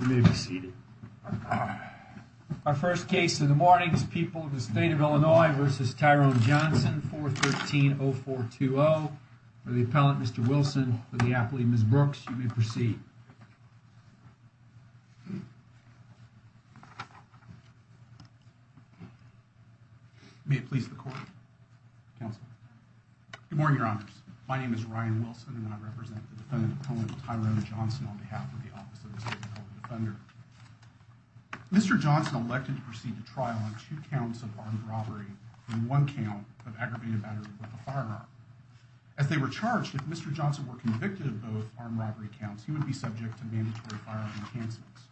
You may be seated. Our first case in the morning is People of the State of Illinois v. Tyrone Johnson 413-0420. For the appellant, Mr. Wilson, for the appellee, Ms. Brooks, you may proceed. May it please the court, counsel. Good morning, your honors. My name is Ryan Wilson and I represent the defendant appellant Tyrone Johnson on behalf of the Office of the State of Illinois Defender. Mr. Johnson elected to proceed to trial on two counts of armed robbery and one count of aggravated battery with a firearm. As they were charged, if Mr. Johnson were convicted of both armed robbery counts, he would be subject to mandatory firearm enhancements.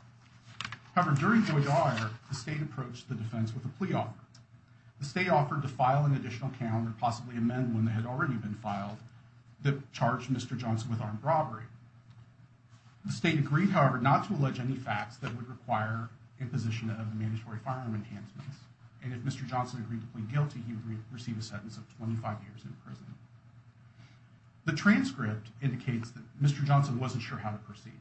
However, during Floyd Dyer, the state approached the defense with a plea offer. The state offered to file an additional count and possibly amend one that had already been filed that charged Mr. Johnson with armed robbery. The state agreed, however, not to allege any facts that would require imposition of the mandatory firearm enhancements and if Mr. Johnson agreed to plead guilty, he would receive a sentence of 25 years in prison. The transcript indicates that Mr. Johnson wasn't sure how to proceed.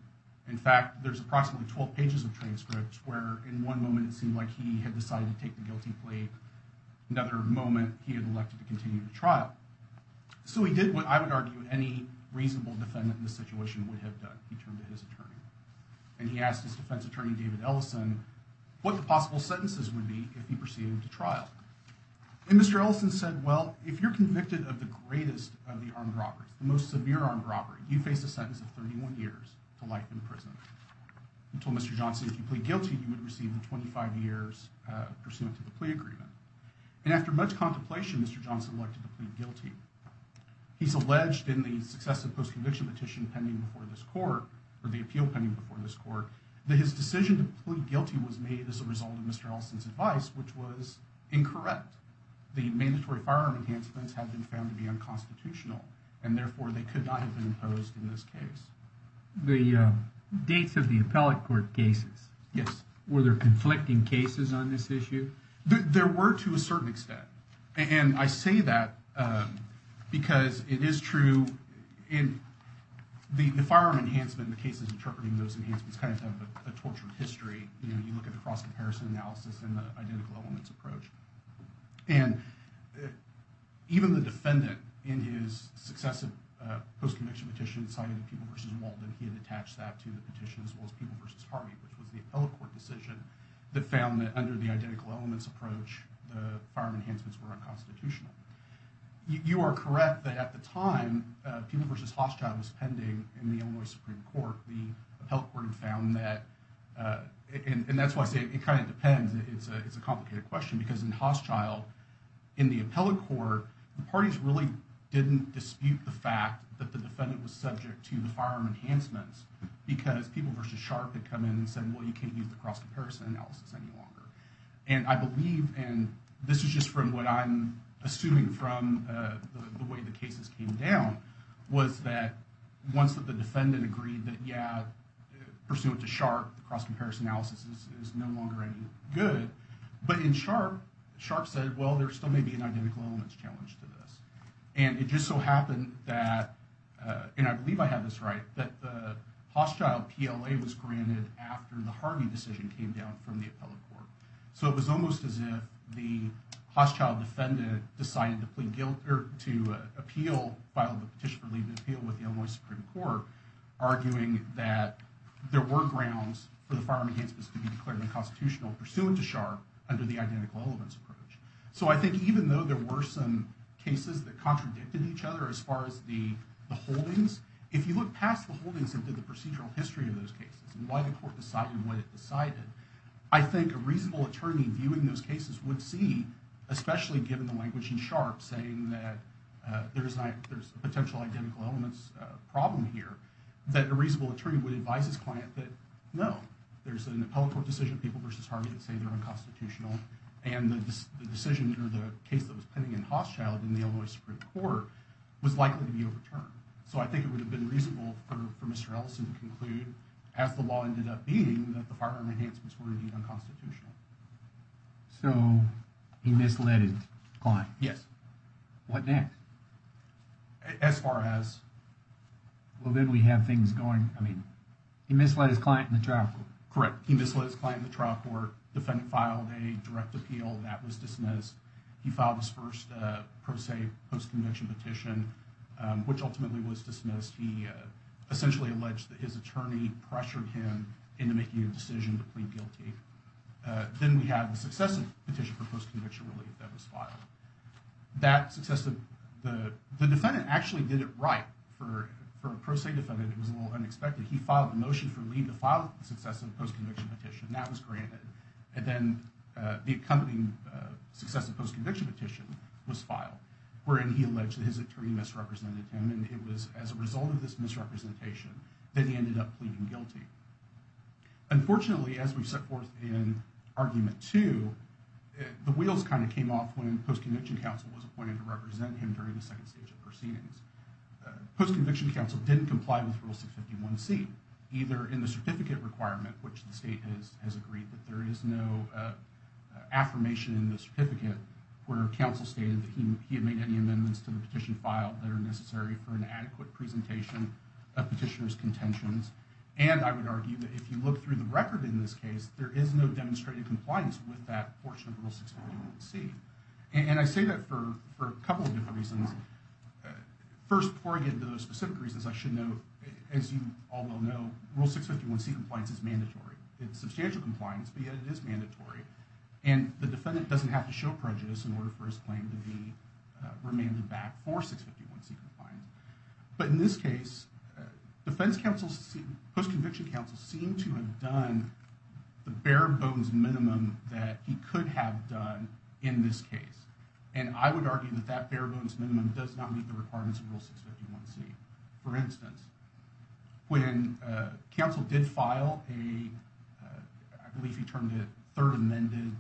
In fact, there's approximately 12 pages of transcripts where in one moment it seemed like he had decided to take the guilty plea, another moment he had continued to trial. So he did what I would argue any reasonable defendant in this situation would have done. He turned to his attorney and he asked his defense attorney, David Ellison, what the possible sentences would be if he proceeded to trial. And Mr. Ellison said, well, if you're convicted of the greatest of the armed robberies, the most severe armed robbery, you face a sentence of 31 years to life in prison. He told Mr. Johnson, if you plead guilty, you would receive the 25 years pursuant to the plea agreement. And after much contemplation, Mr. Johnson elected to plead guilty. He's alleged in the successive post-conviction petition pending before this court, or the appeal pending before this court, that his decision to plead guilty was made as a result of Mr. Ellison's advice, which was incorrect. The mandatory firearm enhancements have been found to be unconstitutional and therefore they could not have been imposed in this case. The dates of the appellate court cases, were there conflicting cases on this issue? There were to a certain extent. And I say that because it is true in the firearm enhancement, the cases interpreting those enhancements kind of have a tortured history. You know, you look at the cross-comparison analysis and the identical elements approach. And even the defendant in his successive post-conviction petition cited People v. Walden. He had attached that to the petition as well as People v. Harvey, which was the appellate court decision that found that under the identical elements approach, the firearm enhancements were unconstitutional. You are correct that at the time, People v. Hochschild was pending in the Illinois Supreme Court. The appellate court had found that. And that's why I say it kind of depends. It's a complicated question because in Hochschild, in the appellate court, the parties really didn't dispute the fact that the defendant was subject to the firearm enhancements because People v. Sharpe had come in and said, well, you can't use the cross-comparison analysis any longer. And I believe, and this is just from what I'm assuming from the way the cases came down, was that once that the defendant agreed that, yeah, pursuant to Sharpe, the cross-comparison analysis is no longer any good. But in Sharpe, Sharpe said, well, there still may be an identical elements challenge to this. And it just so happened that, and I believe I have this right, that the Hochschild PLA was granted after the Harvey decision came down from the appellate court. So it was almost as if the Hochschild defendant decided to appeal, filed a petition for leave to appeal with the Illinois Supreme Court, arguing that there were grounds for the firearm enhancements to be declared unconstitutional pursuant to Sharpe under the identical elements approach. So I think even though there were some cases that contradicted each other as far as the holdings into the procedural history of those cases and why the court decided what it decided, I think a reasonable attorney viewing those cases would see, especially given the language in Sharpe saying that there's a potential identical elements problem here, that a reasonable attorney would advise his client that, no, there's an appellate court decision, people versus Harvey, that say they're unconstitutional. And the decision or the case that was pending in Hochschild in the Mr. Ellison to conclude, as the law ended up being, that the firearm enhancements were indeed unconstitutional. So he misled his client. Yes. What next? As far as... Well, then we have things going. I mean, he misled his client in the trial court. Correct. He misled his client in the trial court. Defendant filed a direct appeal. That was dismissed. He filed his first pro se post-conviction petition, which ultimately was dismissed. He essentially alleged that his attorney pressured him into making a decision to plead guilty. Then we have the successive petition for post-conviction relief that was filed. That successive... The defendant actually did it right. For a pro se defendant, it was a little unexpected. He filed a motion for leave to file the successive post-conviction petition. That was granted. And then the accompanying successive post-conviction petition was filed, wherein he alleged that his attorney misrepresented him. And it was as a result of this misrepresentation that he ended up pleading guilty. Unfortunately, as we set forth in argument two, the wheels kind of came off when post-conviction counsel was appointed to represent him during the second stage of proceedings. Post-conviction counsel didn't comply with Rule 651C, either in the certificate requirement, which the state has agreed that there is no affirmation in the certificate where counsel stated that he had made any amendments to the petition filed that are necessary for an adequate presentation of petitioner's contentions. And I would argue that if you look through the record in this case, there is no demonstrative compliance with that portion of Rule 651C. And I say that for a couple of different reasons. First, before I get into those specific reasons, as you all well know, Rule 651C compliance is mandatory. It's substantial compliance, but yet it is mandatory. And the defendant doesn't have to show prejudice in order for his claim to be remanded back for 651C compliance. But in this case, post-conviction counsel seemed to have done the bare-bones minimum that he could have done in this case. And I would argue that that bare-bones minimum does not meet the requirements of Rule 651C. For instance, when counsel did file a, I believe he termed it third amended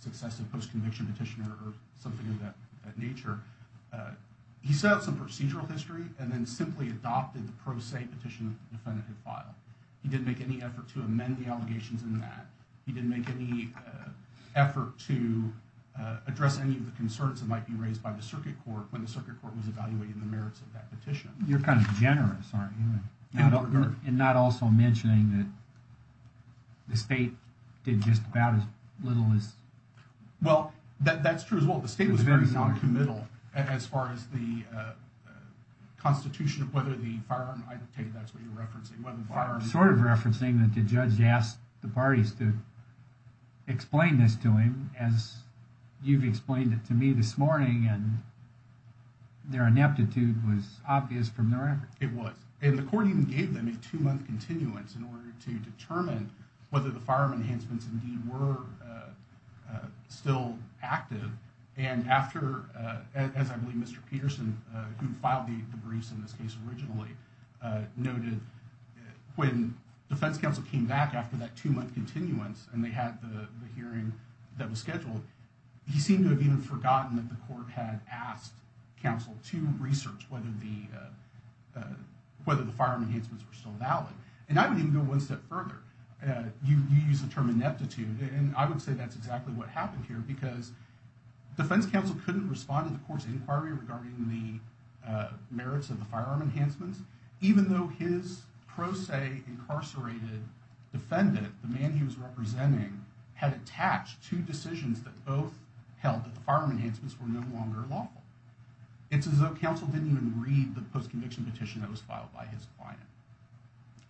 successive post-conviction petitioner or something of that nature, he set out some procedural history and then simply adopted the pro se petition definitive file. He didn't make any effort to amend the allegations in that. He didn't make any effort to address any of the concerns that might be raised by the circuit court when the circuit court was evaluating the merits of that petition. You're kind of generous, aren't you? And not also mentioning that the state did just about as little as... Well, that's true as well. The state was very non-committal as far as the constitution of whether the firearm, I take that's what you're saying. The state did not explain this to him as you've explained it to me this morning and their ineptitude was obvious from their effort. It was. And the court even gave them a two-month continuance in order to determine whether the firearm enhancements indeed were still active. And after, as I believe Mr. Peterson, who filed the briefs in this case originally, noted when defense counsel came back after that two-month continuance and they had the hearing that was scheduled, he seemed to have even forgotten that the court had asked counsel to research whether the firearm enhancements were still valid. And I would even go one step further. You use the term ineptitude and I would say that's exactly what happened here because defense counsel couldn't respond to the court's inquiry regarding the merits of the firearm enhancements, even though his pro se incarcerated defendant, the man he was representing, had attached two decisions that both held that the firearm enhancements were no longer lawful. It's as though counsel didn't even read the post-conviction petition that was filed by his client.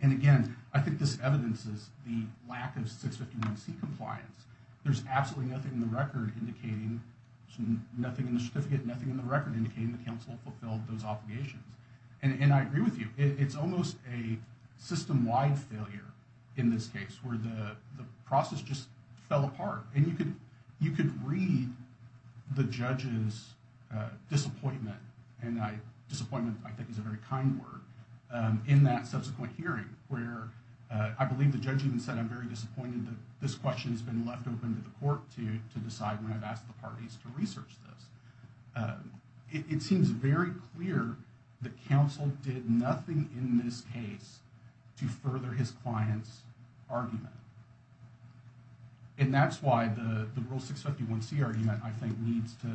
And again, I think this evidences the lack of 651c compliance. There's absolutely nothing in the record indicating, nothing in the certificate, nothing in the record indicating the counsel fulfilled those obligations. And I agree with it's almost a system-wide failure in this case where the process just fell apart. And you could read the judge's disappointment, and disappointment I think is a very kind word, in that subsequent hearing where I believe the judge even said, I'm very disappointed that this question has been left open to the court to decide when I've asked the parties to research this. It seems very clear that counsel did nothing in this case to further his client's argument. And that's why the rule 651c argument I think needs to,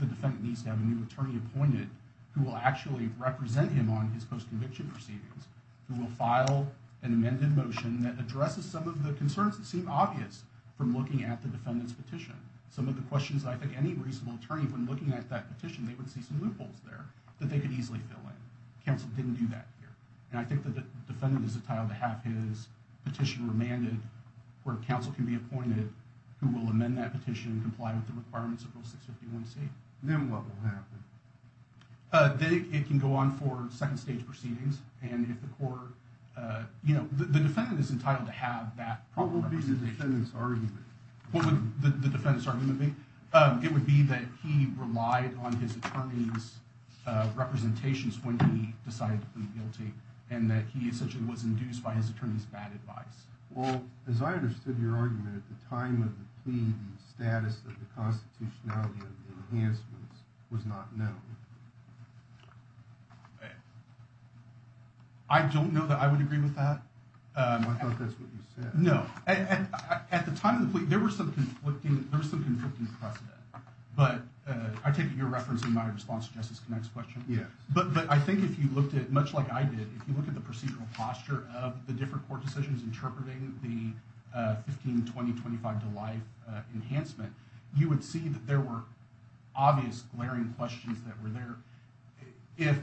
the defendant needs to have a new attorney appointed who will actually represent him on his post-conviction proceedings, who will file an amended motion that addresses some of the concerns that seem obvious from looking at the defendant's petition. Some of the questions I think any reasonable attorney when looking at that petition, they would see some loopholes there that they could easily fill in. Counsel didn't do that here. And I think that the defendant is entitled to have his petition remanded where counsel can be appointed who will amend that petition and comply with the requirements of rule 651c. Then what will happen? It can go on for second stage proceedings. And if the court, you know, the defendant is entitled to have that. What will be the defendant's argument? What would the defendant's argument be? It would be that he relied on his attorney's representations when he decided to plead guilty and that he essentially was induced by his attorney's bad advice. Well, as I understood your argument at the time of the plea, the status of the constitutionality of the enhancements was not known. I don't know that I would agree with that. I thought that's what you said. No. At the time of the plea, there was some conflicting precedent. But I take your reference in my response to Justice Connett's question. Yes. But I think if you looked at, much like I did, if you look at the procedural posture of the different court decisions interpreting the 15, 20, 25 to life enhancement, you would see that there were obvious glaring questions that were there. The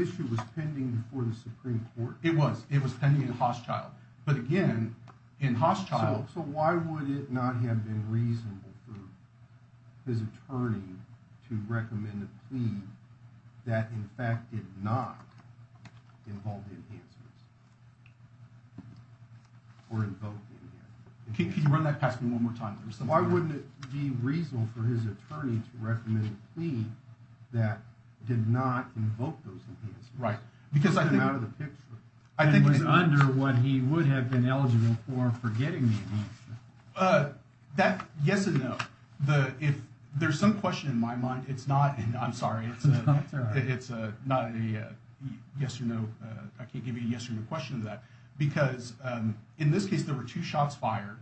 issue was pending before the Supreme Court. It was. It was pending in Hosschildt. But again, in Hosschildt. So why would it not have been reasonable for his attorney to recommend a plea that, in fact, did not involve the enhancements or invoke the enhancements? Can you run that past me one more time? Why wouldn't it be reasonable for his attorney to recommend a plea that did not invoke those enhancements? Right. Because I think out of the picture, I think it was under what he would have been eligible for for getting the enhancements. Yes and no. If there's some question in my mind, it's not. I'm sorry. It's not a yes or no. I can't give you a yes or no question to that. Because in this case, there were two shots fired.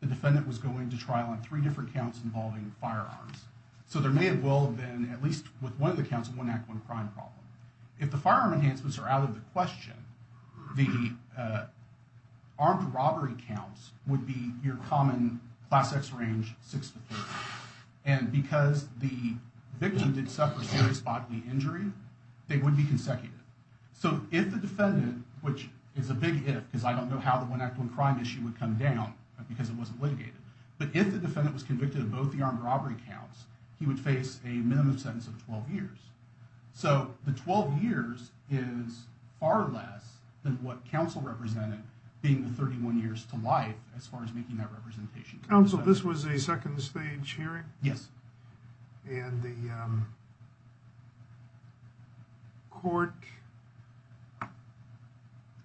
The defendant was going to trial on three different counts involving firearms. So there may have well been, at least with one of the counts, a one-act-one-crime problem. If the firearm enhancements are out of the question, the armed robbery counts would be your common class X range 6 to 30. And because the victim did suffer serious bodily injury, they would be consecutive. So if the defendant, which is a big if, because I don't know how the one-act-one-crime issue would come down, because it wasn't litigated. But if the defendant was convicted of both the armed robbery counts, he would face a minimum sentence of 12 years. So the 12 years is far less than what counsel represented being the 31 years to life as far as making that representation. Counsel, this was a second stage hearing? Yes. And the court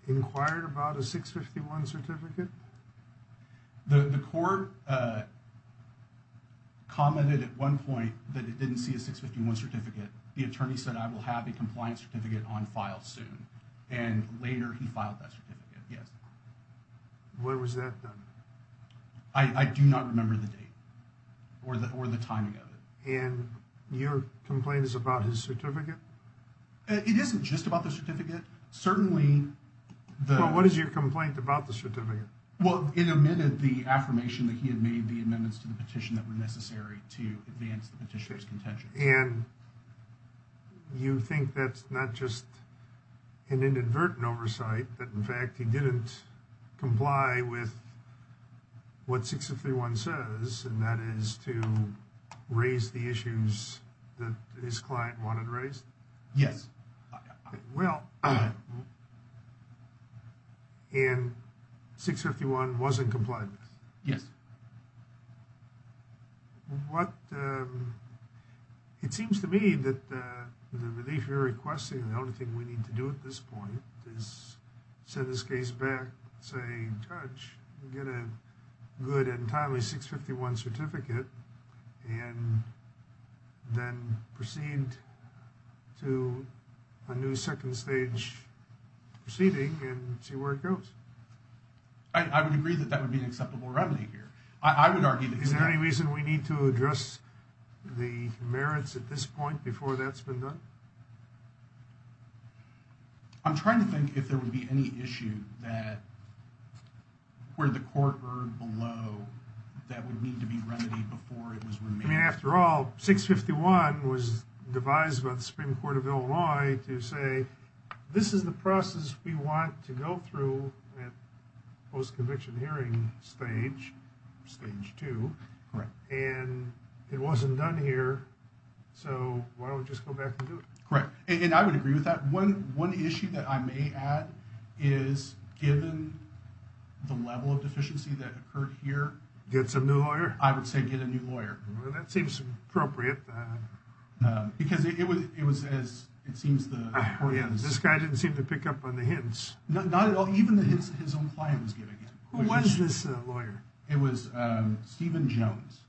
inquired about a 651 certificate? The court commented at one point that it didn't see a 651 certificate. The attorney said, I will have a compliance certificate on file soon. And later he filed that certificate. Yes. When was that done? I do not remember the date or the timing of it. And your complaint is about his certificate? It isn't just about the certificate. Certainly. Well, what is your complaint about the certificate? Well, it amended the affirmation that he had made the amendments to the petition that were necessary to advance the petitioner's contention. And you think that's not just inadvertent oversight, that in fact he didn't comply with what 651 says, and that is to raise the issues that his client wanted raised? Yes. Well, and 651 wasn't complied with? Yes. What, it seems to me that the relief you're requesting, the only thing we need to do at this point is send this case back, say judge, get a good and timely 651 certificate, and then proceed to a new second stage proceeding and see where it goes. I would agree that that would be an acceptable remedy here. I would argue that... Is there any reason we need to address the merits at this point before that's been done? I'm trying to think if there would be any issue that, where the court heard below that would need to be remedied before it was remanded. I mean, after all, 651 was devised by the Supreme Court of Illinois to say, this is the process we want to go through at post-conviction hearing stage, stage two. Correct. And it wasn't done here, so why don't we just go back and do it? Correct. And I would agree with that. One issue that I may add is given the level of deficiency that occurred here... Get some new lawyer? I would say get a new lawyer. Well, that seems appropriate. Because it was as it seems the court has... This guy didn't seem to pick up on the hints. Not at all. Even the hints his own client was giving him. Who was this lawyer? It was Stephen Jones,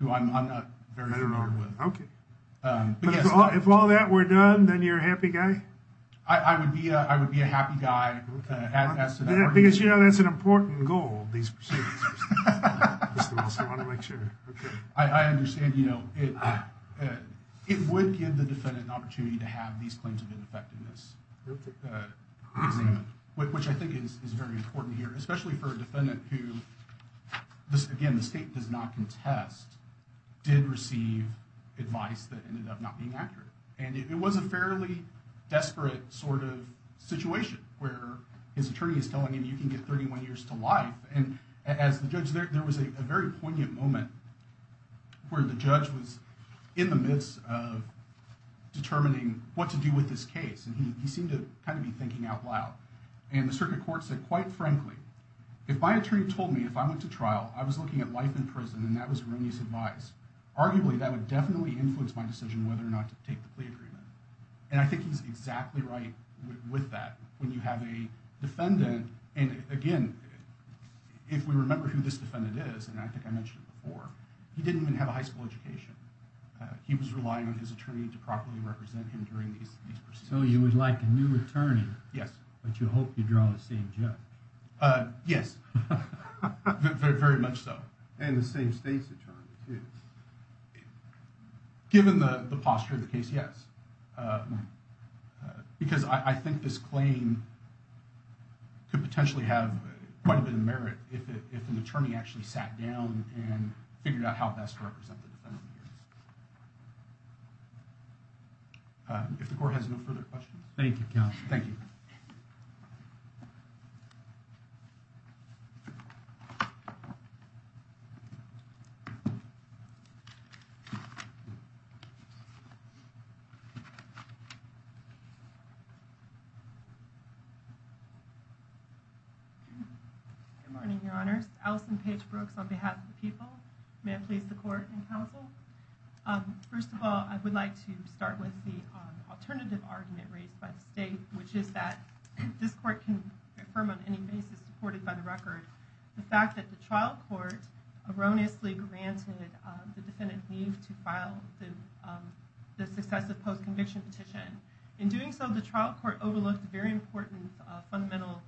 who I'm not very familiar with. Okay. But if all that were done, then you're a happy guy? I would be a happy guy. Because you know, that's an important goal, these proceedings. I understand, you know, it would give the defendant an opportunity to have these claims of ineffectiveness examined, which I think is very important here, especially for a defendant who, again, the state does not contest, did receive advice that ended up not being accurate. And it was a fairly desperate sort of situation where his attorney is telling him you can get 31 years to life. And as the judge, there was a very poignant moment where the judge was in the midst of determining what to do with this case. And he seemed to kind of be thinking out loud. And the circuit court said, quite frankly, if my attorney told me if I went to trial, I was looking at life in prison, and that was arguably, that would definitely influence my decision whether or not to take the plea agreement. And I think he's exactly right with that. When you have a defendant, and again, if we remember who this defendant is, and I think I mentioned it before, he didn't even have a high school education. He was relying on his attorney to properly represent him during these proceedings. So you would like a new attorney? Yes. But you hope you draw the same judge? Yes. Very much so. And the same state's attorney too. Given the posture of the case, yes. Because I think this claim could potentially have quite a bit of merit if an attorney actually sat down and figured out how best to represent the defendant. If the court has no further questions. Thank you, counsel. Thank you. Good morning, your honors. Alison Page Brooks on behalf of the people. May I please the court and counsel. First of all, I would like to start with the alternative argument raised by the state, which is that this court can affirm on any basis supported by the record the fact that the trial court erroneously granted the defendant leave to file the successive post-conviction petition. In doing so, the trial court overlooked a very important fundamental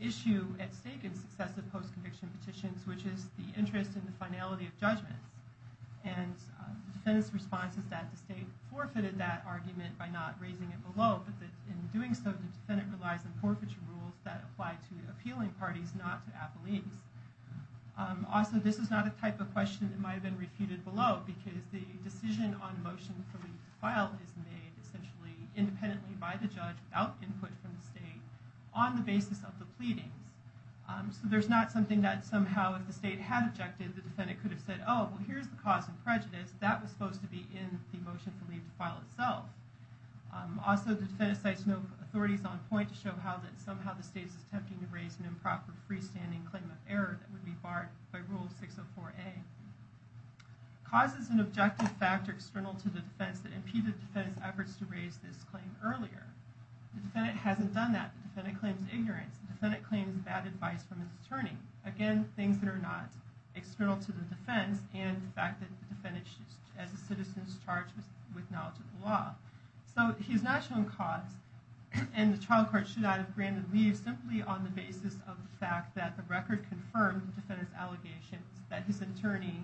issue at stake in successive post-conviction petitions, which is the interest in the finality of judgments. And the defendant's response is that the state forfeited that argument by not raising it below, but that in doing so, the defendant relies on forfeiture rules that apply to appealing parties, not to appellees. Also, this is not a type of question that might have been refuted below, because the decision on motion for leave to file is made essentially independently by the judge without input from the state on the basis of the pleadings. So there's not something that somehow, if the state had objected, the defendant could have said, oh, well, here's the cause of prejudice that was supposed to be in the motion for leave to file itself. Also, the defendant cites no authorities on point to show how that somehow the state is attempting to raise an improper freestanding claim of error that would be barred by Rule 604A. Cause is an objective factor external to the defense that impeded the defendant's efforts to raise this claim earlier. The defendant hasn't done that. The defendant claims ignorance. The defendant claims bad advice from his attorney. Again, things that are not external to the defense and the fact that the defendant, as a citizen, is charged with knowledge of the law. So he's not shown cause and the trial court should not have granted leave simply on the basis of the fact that the record confirmed the defendant's allegations that his attorney,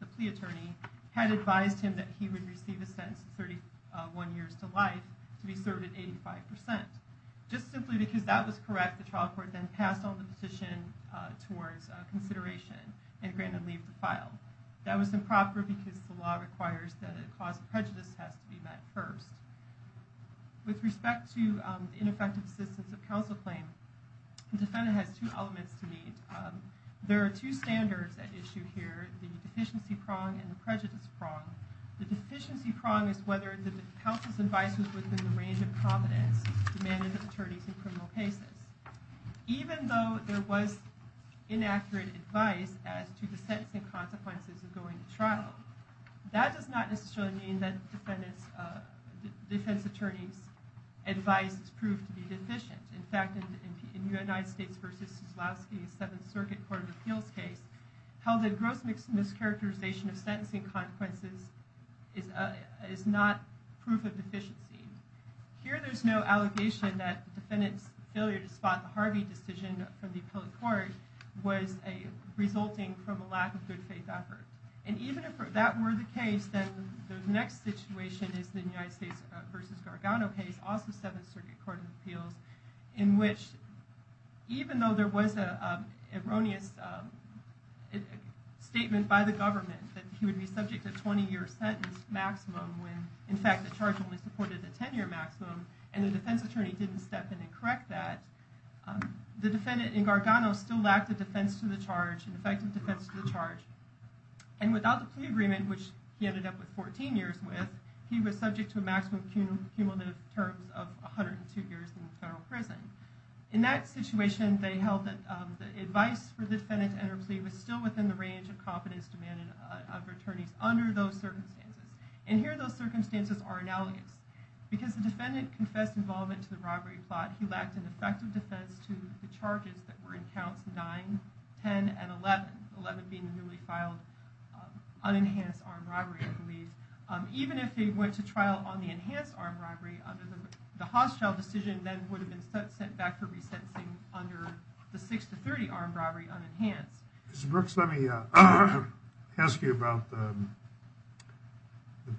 the plea attorney, had advised him that he would receive a sentence of 31 years to life to be served at 85%. Just simply because that was correct, the trial court then passed on the petition towards consideration and granted leave to file. That was improper because the law requires that a cause of prejudice has to be met first. With respect to ineffective assistance of counsel claim, the defendant has two elements to meet. There are two standards at issue here, the deficiency prong and the prejudice prong. The deficiency prong is whether the counsel's range of competence demanded of attorneys in criminal cases. Even though there was inaccurate advice as to the sentencing consequences of going to trial, that does not necessarily mean that defense attorneys' advice is proved to be deficient. In fact, in the United States versus Sisolowsky, a Seventh Circuit Court of Appeals case, held that gross mischaracterization of deficiency. Here there's no allegation that the defendant's failure to spot the Harvey decision from the appellate court was resulting from a lack of good faith effort. And even if that were the case, then the next situation is the United States versus Gargano case, also Seventh Circuit Court of Appeals, in which even though there was an erroneous statement by the government that he only supported a 10-year maximum, and the defense attorney didn't step in and correct that, the defendant in Gargano still lacked a defense to the charge, an effective defense to the charge. And without the plea agreement, which he ended up with 14 years with, he was subject to a maximum cumulative terms of 102 years in federal prison. In that situation, they held that the advice for the defendant to enter a plea was still within the range of competence demanded of attorneys under those circumstances. And here those circumstances are analogous. Because the defendant confessed involvement to the robbery plot, he lacked an effective defense to the charges that were in counts 9, 10, and 11. 11 being the newly filed unenhanced armed robbery, I believe. Even if they went to trial on the enhanced armed robbery, the hostile decision then would have been sent back for resentencing under the 6 to 30 armed robbery unenhanced. Mr. Brooks, let me ask you about the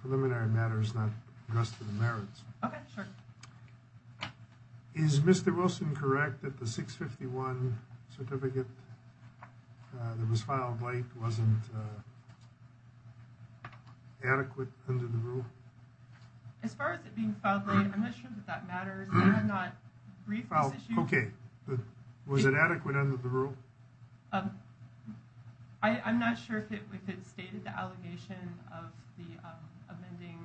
preliminary matters not addressed to the merits. Okay, sure. Is Mr. Wilson correct that the 651 certificate that was filed late wasn't adequate under the rule? As far as it being filed late, I'm not sure that that matters. I'm not briefed on this issue. Okay, but was it adequate under the rule? I'm not sure if it stated the allegation of the amending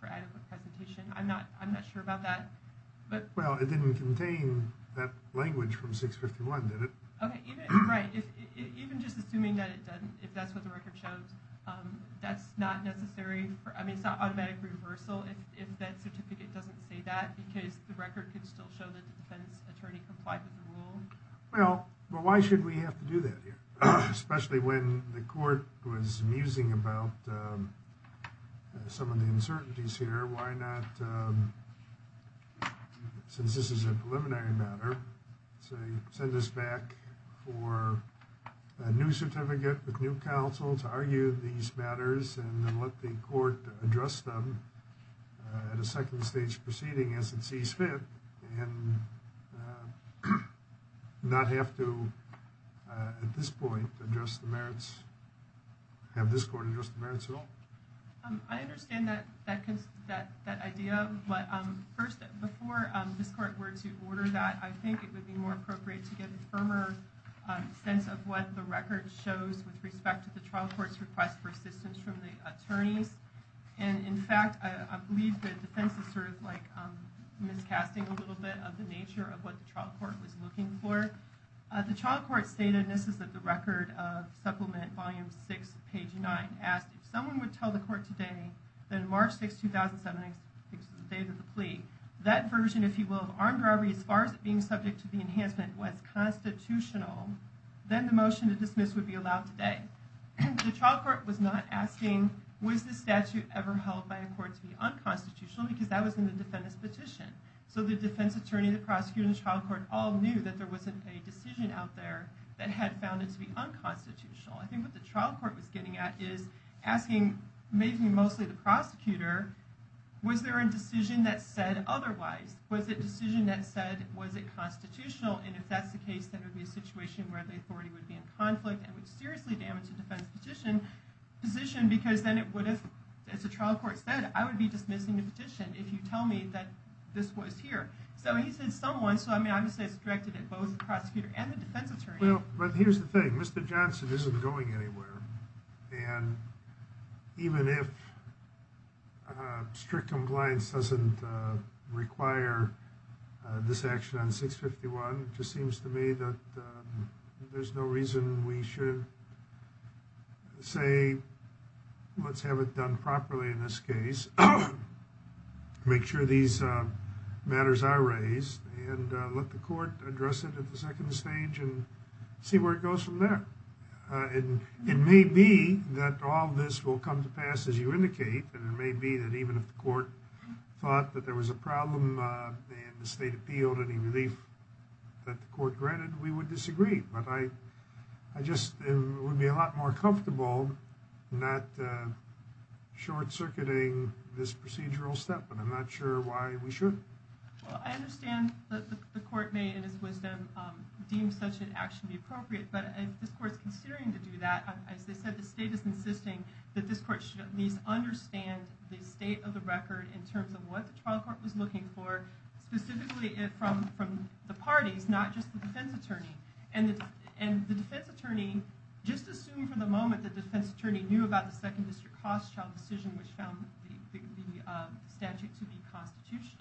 for adequate presentation. I'm not sure about that. Well, it didn't contain that language from 651, did it? Okay, right. Even just assuming that it doesn't, if that's what the record shows, that's not necessary. I mean, it's not automatic reversal if that certificate doesn't say that, because the record could still show that the defense attorney complied with the rule. Well, but why should we have to do that here, especially when the court was musing about some of the uncertainties here? Why not, since this is a preliminary matter, say send this back for a new certificate with new counsel to see fit and not have to, at this point, have this court address the merits at all? I understand that idea, but first, before this court were to order that, I think it would be more appropriate to get a firmer sense of what the record shows with respect to the trial court's request for assistance from the attorneys. And in fact, I believe the defense is sort of like miscasting a little bit of the nature of what the trial court was looking for. The trial court stated, and this is at the record of Supplement Volume 6, page 9, asked if someone would tell the court today that in March 6, 2007, the date of the plea, that version, if you will, of armed robbery, as far as being subject to the enhancement, was constitutional, then the motion to dismiss would be allowed today. The trial court was not asking, was the statute ever held by a court to be unconstitutional, because that was in the defendant's petition. So the defense attorney, the prosecutor, and the trial court all knew that there wasn't a decision out there that had found it to be unconstitutional. I think what the trial court was getting at is asking, maybe mostly the prosecutor, was there a decision that said otherwise? Was it a decision that said, was it constitutional? And if that's the case, that would be a situation where the authority would be in conflict and would seriously damage the defense petition, because then it would have, as the trial court said, I would be dismissing the petition if you tell me that this was here. So he said someone, so I'm going to say it's directed at both the prosecutor and the defense attorney. Well, but here's the thing. Mr. Johnson isn't going anywhere. And even if strict compliance doesn't require this action on 651, it just seems to me that there's no reason we should say, let's have it done properly in this case. Make sure these matters are raised and let the court address it at the second stage and see where it goes from there. And it may be that all this will come to pass, as you indicate. And it may be that even if the court thought that there was a problem and the state appealed any relief that the court granted, we would disagree. But I just, it would be a lot more comfortable not short-circuiting this procedural step, but I'm not sure why we should. Well, I understand that the court may, in his wisdom, deem such an action to be appropriate. But if this court's considering to do that, as they said, the state is insisting that this court should at least understand the state of the record in terms of what the trial court was looking for, specifically from the parties, not just the defense attorney. And the defense attorney, just assume for the moment that the defense attorney knew about the second district cost child decision, which found the statute to be constitutional.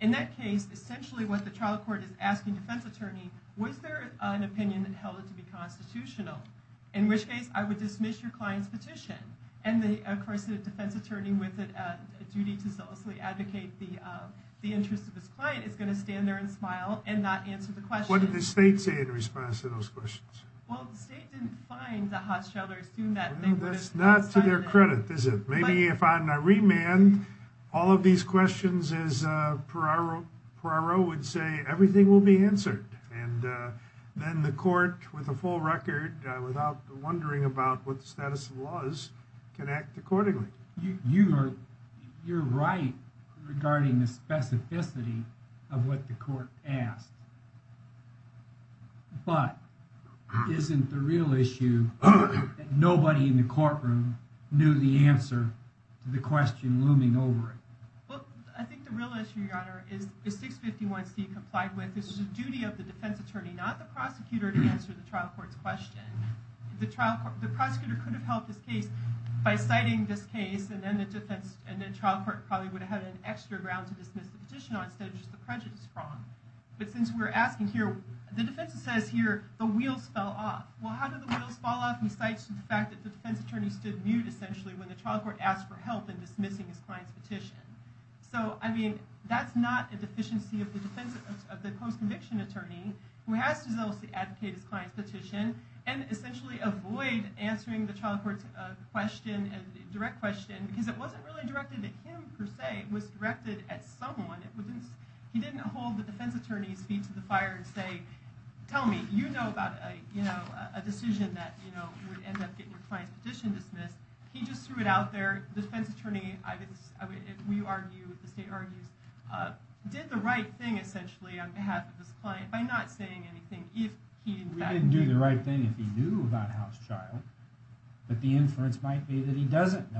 In that case, essentially what the trial court is asking the defense attorney, was there an opinion that held it to be constitutional? In which case, I would dismiss your client's petition. And the, of course, the defense attorney with a duty to solicit advocate the interest of his client is going to stand there and smile and not answer the question. What did the state say in response to those questions? Well, the state didn't find the cost child or assume that they would. That's not to their credit, is it? Maybe if I'm a remand, all of these questions is, uh, Peraro would say everything will be answered. And, uh, then the court with a full record, uh, without wondering about what the status of the laws can act accordingly. You, you are, you're right regarding the specificity of what the court asked, but isn't the real issue. Nobody in the courtroom knew the answer to the question looming over it. Well, I think the real issue, your honor is 651 C complied with. This is a duty of the defense attorney, not the prosecutor to answer the trial court's question. The trial court, the prosecutor could have helped this case by citing this case. And then the defense and the trial court probably would have had an extra ground to dismiss the petition on stage, the prejudice from, but since we're asking here, the defense says here, the wheels fell off. Well, how did the wheels fall off? And he cites the fact that the defense attorney stood mute essentially when the trial court asked for help in dismissing his client's petition. So, I mean, that's not a deficiency of the defense of the post-conviction attorney who has to advocate his client's petition and essentially avoid answering the trial court's, uh, question and direct question, because it wasn't really directed at him per se was directed at someone. It wouldn't, he didn't hold the defense attorney's feet to the fire and say, tell me, you know about a, you know, a decision that, you know, would end up getting your client's petition dismissed. He just threw it out there. Defense attorney, I would, we argue, the state argues, uh, did the right thing essentially on behalf of this client by not saying anything. If he didn't do the right thing, if he knew about house child, but the inference might be that he didn't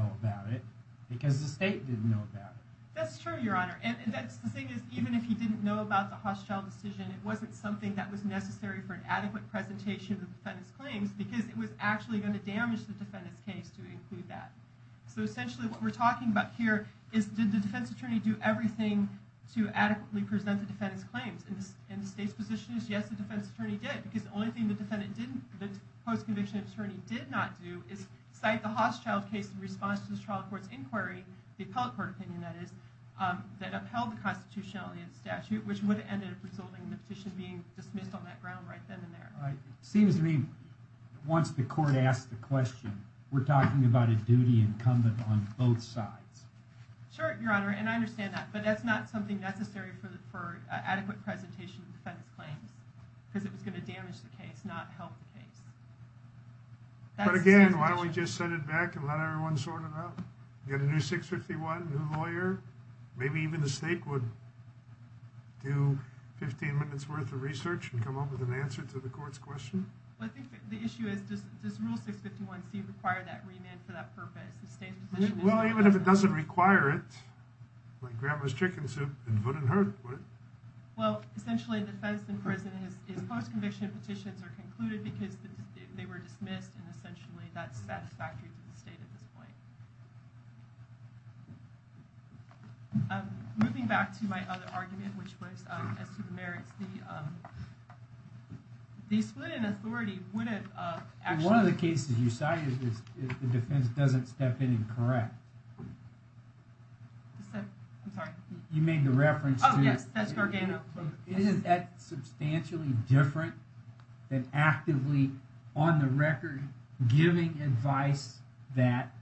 know about the hostile decision. It wasn't something that was necessary for an adequate presentation of the defendant's claims because it was actually going to damage the defendant's case to include that. So essentially what we're talking about here is did the defense attorney do everything to adequately present the defendant's claims and the state's position is yes, the defense attorney did because the only thing the defendant didn't, the post-conviction attorney did not do is cite the hostile case in response to the trial court's inquiry, the appellate court that is, um, that upheld the constitutionality of the statute, which would have ended up resulting in the petition being dismissed on that ground right then and there. Right. Seems to me once the court asked the question, we're talking about a duty incumbent on both sides. Sure, your honor. And I understand that, but that's not something necessary for the, for adequate presentation of the defendant's claims because it was going to damage the case, not help the case. But again, why don't we just send it back and let everyone sort it out? Get a new 651, new lawyer, maybe even the state would do 15 minutes worth of research and come up with an answer to the court's question. Well, I think the issue is does rule 651C require that remand for that purpose? Well, even if it doesn't require it, like grandma's chicken soup, it wouldn't hurt, would it? Well, essentially the defense in prison, his post-conviction petitions are concluded because they were dismissed and essentially that's satisfactory to the state at this point. Um, moving back to my other argument, which was, um, as to the merits, the, um, the split in authority wouldn't, uh, actually. One of the cases you cited is if the defense doesn't step in and correct. Except, I'm sorry. You made the reference to. Oh yes, that's Gargano. It is that substantially different than actively on the record giving advice that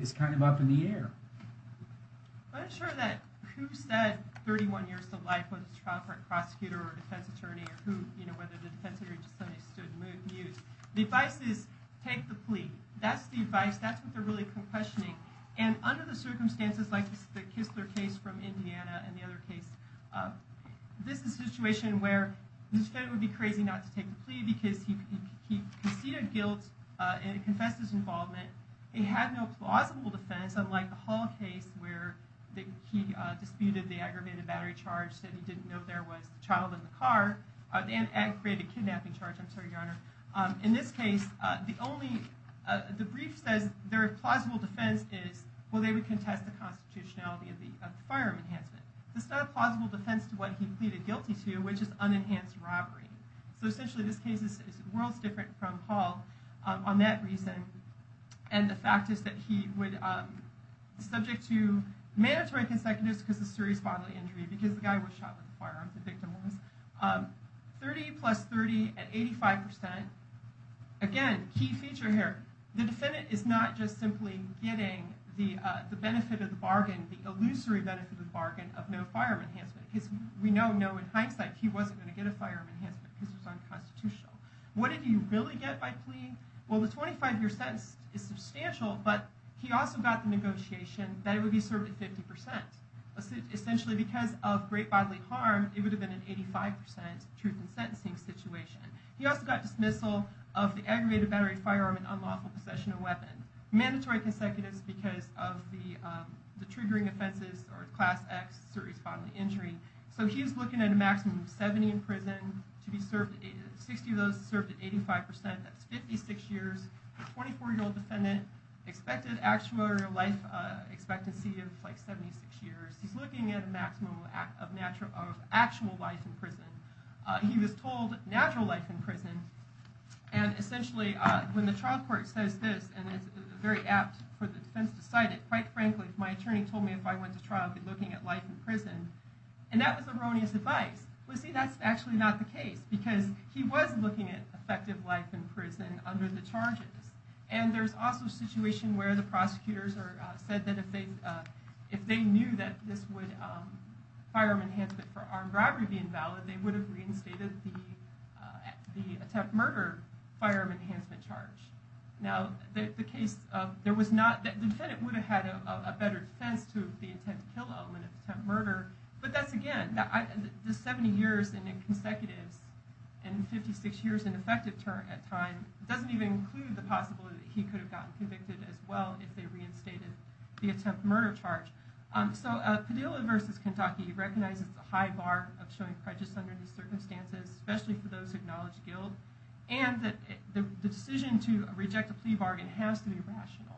is kind of up in the air. I'm not sure that who said 31 years of life was a trial court prosecutor or a defense attorney or who, you know, whether the defense attorney just suddenly stood mute. The advice is take the plea. That's the advice. That's what they're really questioning. And under the circumstances like the Kistler case from Indiana and the other case, this is a situation where the defendant would be crazy not to take the plea because he had no plausible defense. Unlike the Hall case where he disputed the aggravated battery charge that he didn't know there was a child in the car. And it created a kidnapping charge. I'm sorry, Your Honor. In this case, the only, uh, the brief says their plausible defense is, well, they would contest the constitutionality of the firearm enhancement. It's not a plausible defense to what he pleaded guilty to, which is unenhanced robbery. So essentially this case is worlds different from Hall on that reason. And the fact is that he would, um, subject to mandatory consecutives because a serious bodily injury because the guy was shot with a firearm, the victim was, um, 30 plus 30 at 85%. Again, key feature here. The defendant is not just simply getting the, uh, the benefit of the bargain, the illusory benefit of the bargain of no firearm enhancement because we know, no, in hindsight, he wasn't going to get a firearm enhancement because it was unconstitutional. What did he really get by pleading? Well, the 25 year sentence is substantial, but he also got the negotiation that it would be served at 50%. Essentially because of great bodily harm, it would have been an 85% truth in sentencing situation. He also got dismissal of the aggravated battery firearm and unlawful possession of weapon mandatory consecutives because of the, um, the triggering offenses or class X serious bodily injury. So he was looking at a maximum of 70 in prison to be served. 60 of those served at 85%. That's 56 years. 24 year old defendant expected actual life expectancy of like 76 years. He's looking at a maximum of natural, of actual life in prison. He was told natural life in prison. And essentially, uh, when the trial court says this, and it's very apt for the defense to cite it, quite frankly, my attorney told me if I went to trial, I'd be looking at life in prison. And that was erroneous advice. Well, see, that's actually not the case because he was looking at effective life in prison under the charges. And there's also a situation where the prosecutors are, uh, said that if they, uh, if they knew that this would, um, firearm enhancement for armed robbery be invalid, they would have reinstated the, uh, the attempt murder firearm enhancement charge. Now the case of, there was not, the defendant would have had a better defense to the attempt to kill element of attempt murder. But that's, again, the 70 years in consecutives and 56 years in effective term at time doesn't even include the possibility that he could have gotten convicted as well if they reinstated the attempt murder charge. Um, so, uh, Padilla versus Kentucky recognizes the high bar of showing prejudice under these circumstances, especially for those who acknowledge guilt and that the decision to reject a plea bargain has to be rational.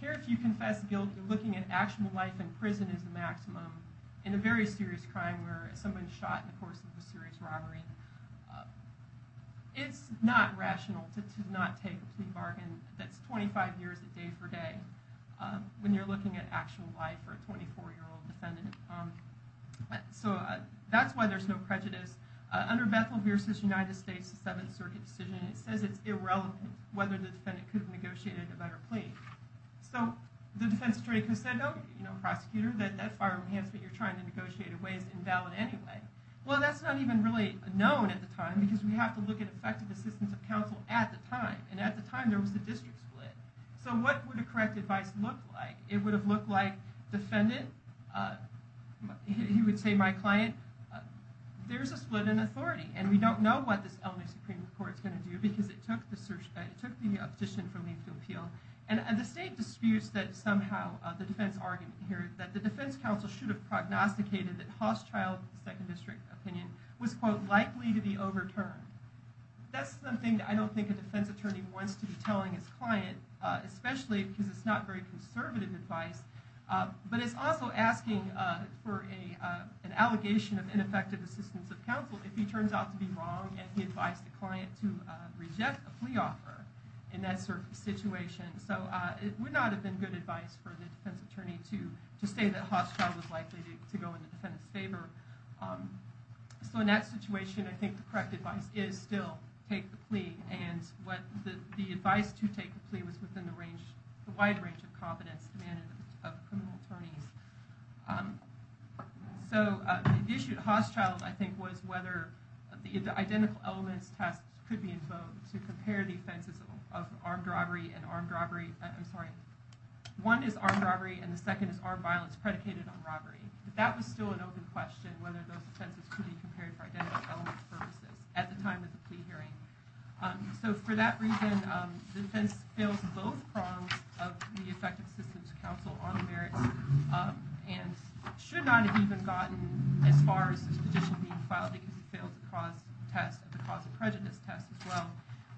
Here, if you confess guilty, looking at actual life in prison is the maximum. In a very serious crime where someone shot in the course of a serious robbery, uh, it's not rational to, to not take a plea bargain that's 25 years a day for day, um, when you're looking at actual life for a 24 year old defendant. Um, so, uh, that's why there's no prejudice. Under Bethel versus United States, the Seventh Circuit decision, it says it's irrelevant whether the defendant could have negotiated a better plea. So the defense attorney said, no, you know, prosecutor that, that firearm enhancement you're trying to negotiate away is invalid anyway. Well, that's not even really known at the time because we have to look at effective assistance of counsel at the time. And at the time there was the district split. So what would a correct advice look like? It would have looked like defendant, uh, he would say my client, uh, there's a split in authority and we don't know what this LNA Supreme Court is going to do because it took the search, uh, it took the petition for leave to appeal. And, and the state disputes that somehow, uh, the defense argument here that the defense counsel should have prognosticated that Hausschild, the second district opinion, was quote, likely to be overturned. That's something that I don't think a defense attorney wants to be telling his client, uh, especially because it's not very conservative advice. Uh, but it's also asking, uh, for a, uh, an allegation of ineffective assistance of counsel if he turns out to be wrong and he advised the client to, uh, reject the plea offer in that sort of situation. So, uh, it would not have been good advice for the defense attorney to, to say that Hausschild was likely to go in the defendant's favor. Um, so in that situation, I think the correct advice is still take the plea. And what the, the advice to take the plea was within the range, the wide range of confidence demanded of criminal attorneys. Um, so, uh, the issue at Hausschild, I think, was whether the, the identical elements tasks could be invoked to compare the offenses of armed robbery and armed robbery. I'm sorry. One is armed robbery and the second is armed violence predicated on robbery. But that was still an open question, whether those offenses could be compared for identical elements purposes at the time of the plea hearing. Um, so for that reason, um, the defense fails both prongs of the effective system to counsel on the merits, um, and should not have even gotten as far as this petition being filed because it failed to cause test at the cause of prejudice test as well.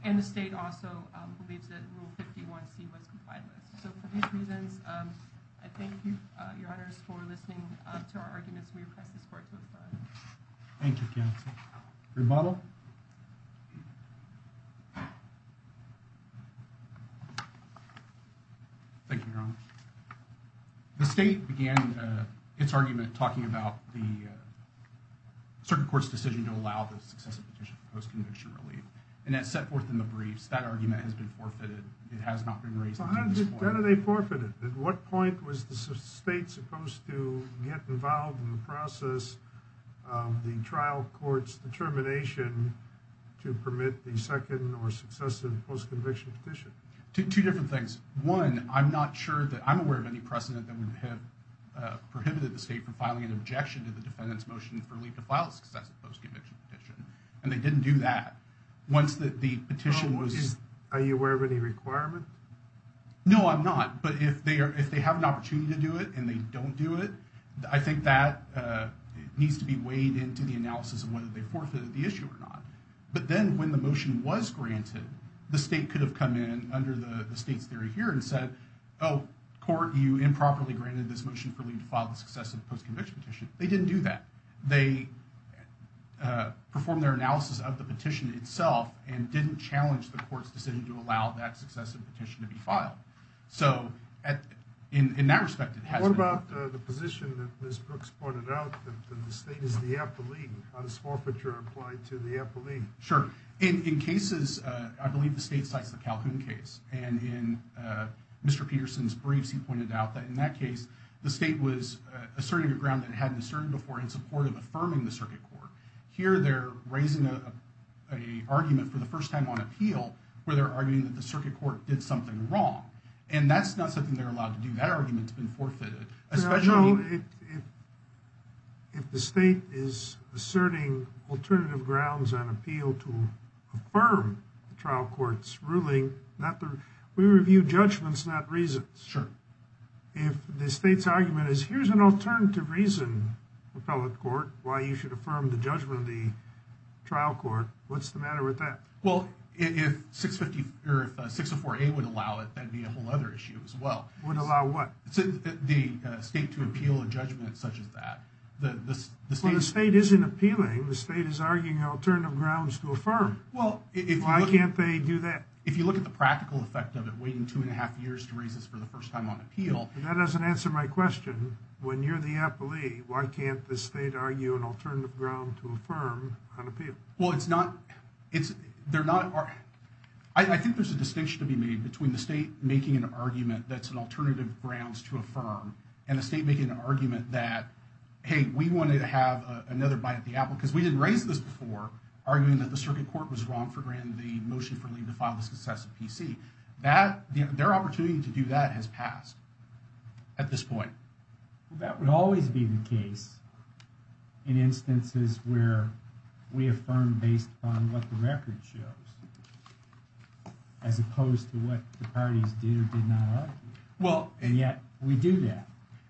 And the state also, um, believes that rule 51c was complied with. So for these reasons, um, I thank you, uh, your honors for listening, uh, to our arguments. We request this court to advise. Thank you, counsel. Rebuttal. Thank you, your honor. The state began, uh, its argument talking about the, uh, circuit court's decision to allow the successive petition for post-conviction relief. And that set forth in the briefs, that argument has been forfeited. It has not been raised. How did they forfeit it? At what point was the state supposed to get involved in the process of the trial court's determination to permit the second or successive post-conviction petition? Two different things. One, I'm not sure that I'm aware of any precedent that would have, uh, prohibited the state from filing an objection to the defendant's motion for relief to file a successive post-conviction petition. And they didn't do that. Once that the petition was... Are you aware of any requirement? No, I'm not. But if they are, if they have an opportunity to do it and they don't do it, I think that, uh, needs to be weighed into the analysis of whether they forfeited the issue or not. But then when the motion was granted, the state could have come in under the state's theory here and said, oh, court, you improperly granted this motion for leave to file the successive post-conviction petition. They didn't do that. They, uh, performed their analysis of the petition itself and didn't challenge the court's decision to allow that successive petition to be filed. So at, in, in that respect, it has been... What about, uh, the position that Ms. Brooks pointed out that the state is the appellee on this forfeiture applied to the appellee? Sure. In, in cases, uh, I believe the state cites the Calhoun case. And in, uh, Mr. Peterson's briefs, he pointed out that in that case, the state was, uh, asserting a ground that it hadn't asserted before in support of affirming the circuit court. Here, they're raising a, a argument for the first time on appeal where they're arguing that the circuit court did something wrong. And that's not something they're allowed to do. That argument's been forfeited. Well, if, if the state is asserting alternative grounds on appeal to affirm the trial court's ruling, not the... We review judgments, not reasons. Sure. If the state's argument is, here's an alternative reason, appellate court, why you should affirm the judgment of the trial court, what's the matter with that? Well, if 650, or if 604A would allow it, that'd be a whole other issue as well. Would allow what? The, uh, state to appeal a judgment such as that. The, the, the state... Well, the state isn't appealing. The state is arguing alternative grounds to affirm. Well, if you look... Why can't they do that? If you look at the practical effect of it, waiting two and a half years to raise this for the first time on appeal... That doesn't answer my question. When you're the appellee, why can't the state argue an alternative ground to affirm on appeal? Well, it's not, it's, they're not... I, I think there's a distinction to be made between the state making an argument that's an alternative grounds to affirm, and the state making an argument that, hey, we wanted to have another bite at the apple, because we didn't raise this before, arguing that the circuit court was wrong for granting the motion for Lee to file the successive PC. That, their opportunity to do that has passed at this point. That would always be the case in instances where we affirm based upon what the record shows. As opposed to what the parties did or did not argue. Well... And yet, we do that.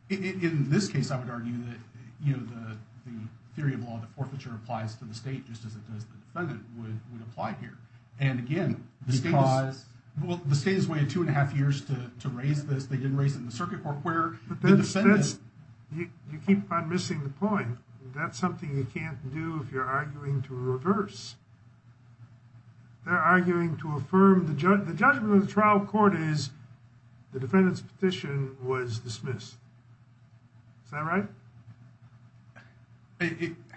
In this case, I would argue that, you know, the, the theory of law, the forfeiture applies to the state, just as it does the defendant, would, would apply here. And again, the state... Because... Well, the state has waited two and a half years to, to raise this. They didn't raise it in the circuit court, where the defendant... But that's, that's, you, you keep on missing the point. That's something you can't do if you're arguing to reverse. They're arguing to affirm the judge... The judgment of the trial court is the defendant's petition was dismissed. Is that right?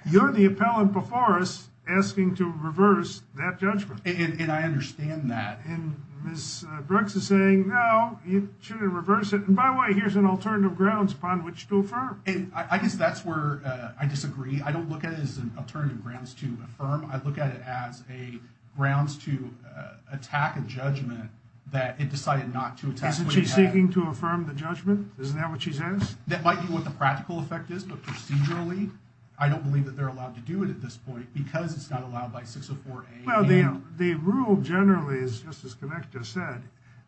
You're the appellant before us asking to reverse that judgment. And I understand that. And Ms. Brooks is saying, no, you shouldn't reverse it. And by the way, here's an alternative grounds upon which to affirm. And I guess that's where I disagree. I don't look at it as an alternative grounds to affirm. I look at it as a grounds to attack a judgment that it decided not to attack. Isn't she seeking to affirm the judgment? Isn't that what she says? That might be what the practical effect is, but procedurally, I don't believe that they're allowed to do it at this point, because it's not allowed by 604A and... Well, the, the rule generally is, just as Connect just said,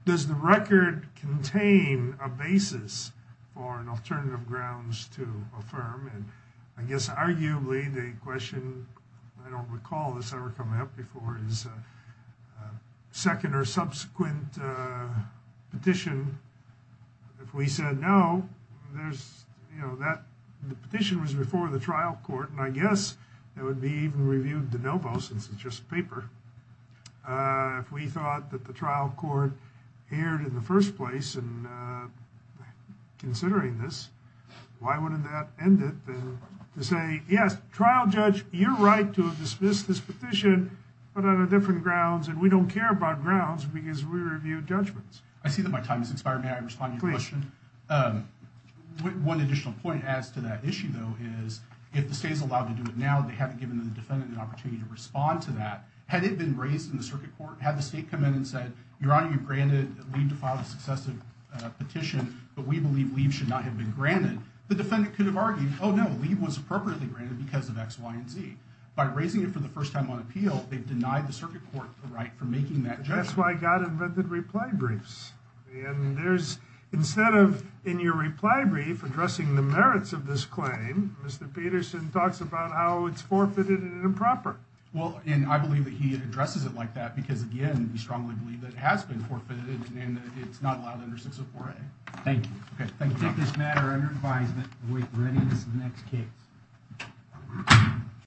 does the record contain a basis for an alternative grounds to affirm? And I guess, arguably, the question, I don't recall this ever coming up before, is a second or subsequent petition. If we said no, there's, you know, that the petition was before the trial court, and I guess it would be even reviewed de novo, since it's just paper. If we thought that the trial court erred in the first place in considering this, why wouldn't that end it, then, to say, yes, trial judge, you're right to have dismissed this petition, but on a different grounds, and we don't care about grounds, because we review judgments. I see that my time has expired. May I respond to your question? One additional point as to that issue, though, is, if the state is allowed to do it now, they haven't given the defendant an opportunity to respond to that. Had it been raised in the circuit court, had the state come in and said, Your Honor, you've granted Leev to file the successive petition, but we believe Leev should not have been granted, the defendant could have argued, Oh, no, Leev was appropriately granted because of X, Y, and Z. By raising it for the first time on appeal, they've denied the circuit court the right for making that judgment. That's why God invented reply briefs. And there's, instead of, in your reply brief, addressing the merits of this claim, Mr. Peterson talks about how it's forfeited and improper. Well, and I believe that he addresses it like that, because, again, we strongly believe that it has been forfeited, and it's not allowed under 604A. Thank you. Okay, thank you. Take this matter under advisement with readiness of the next case.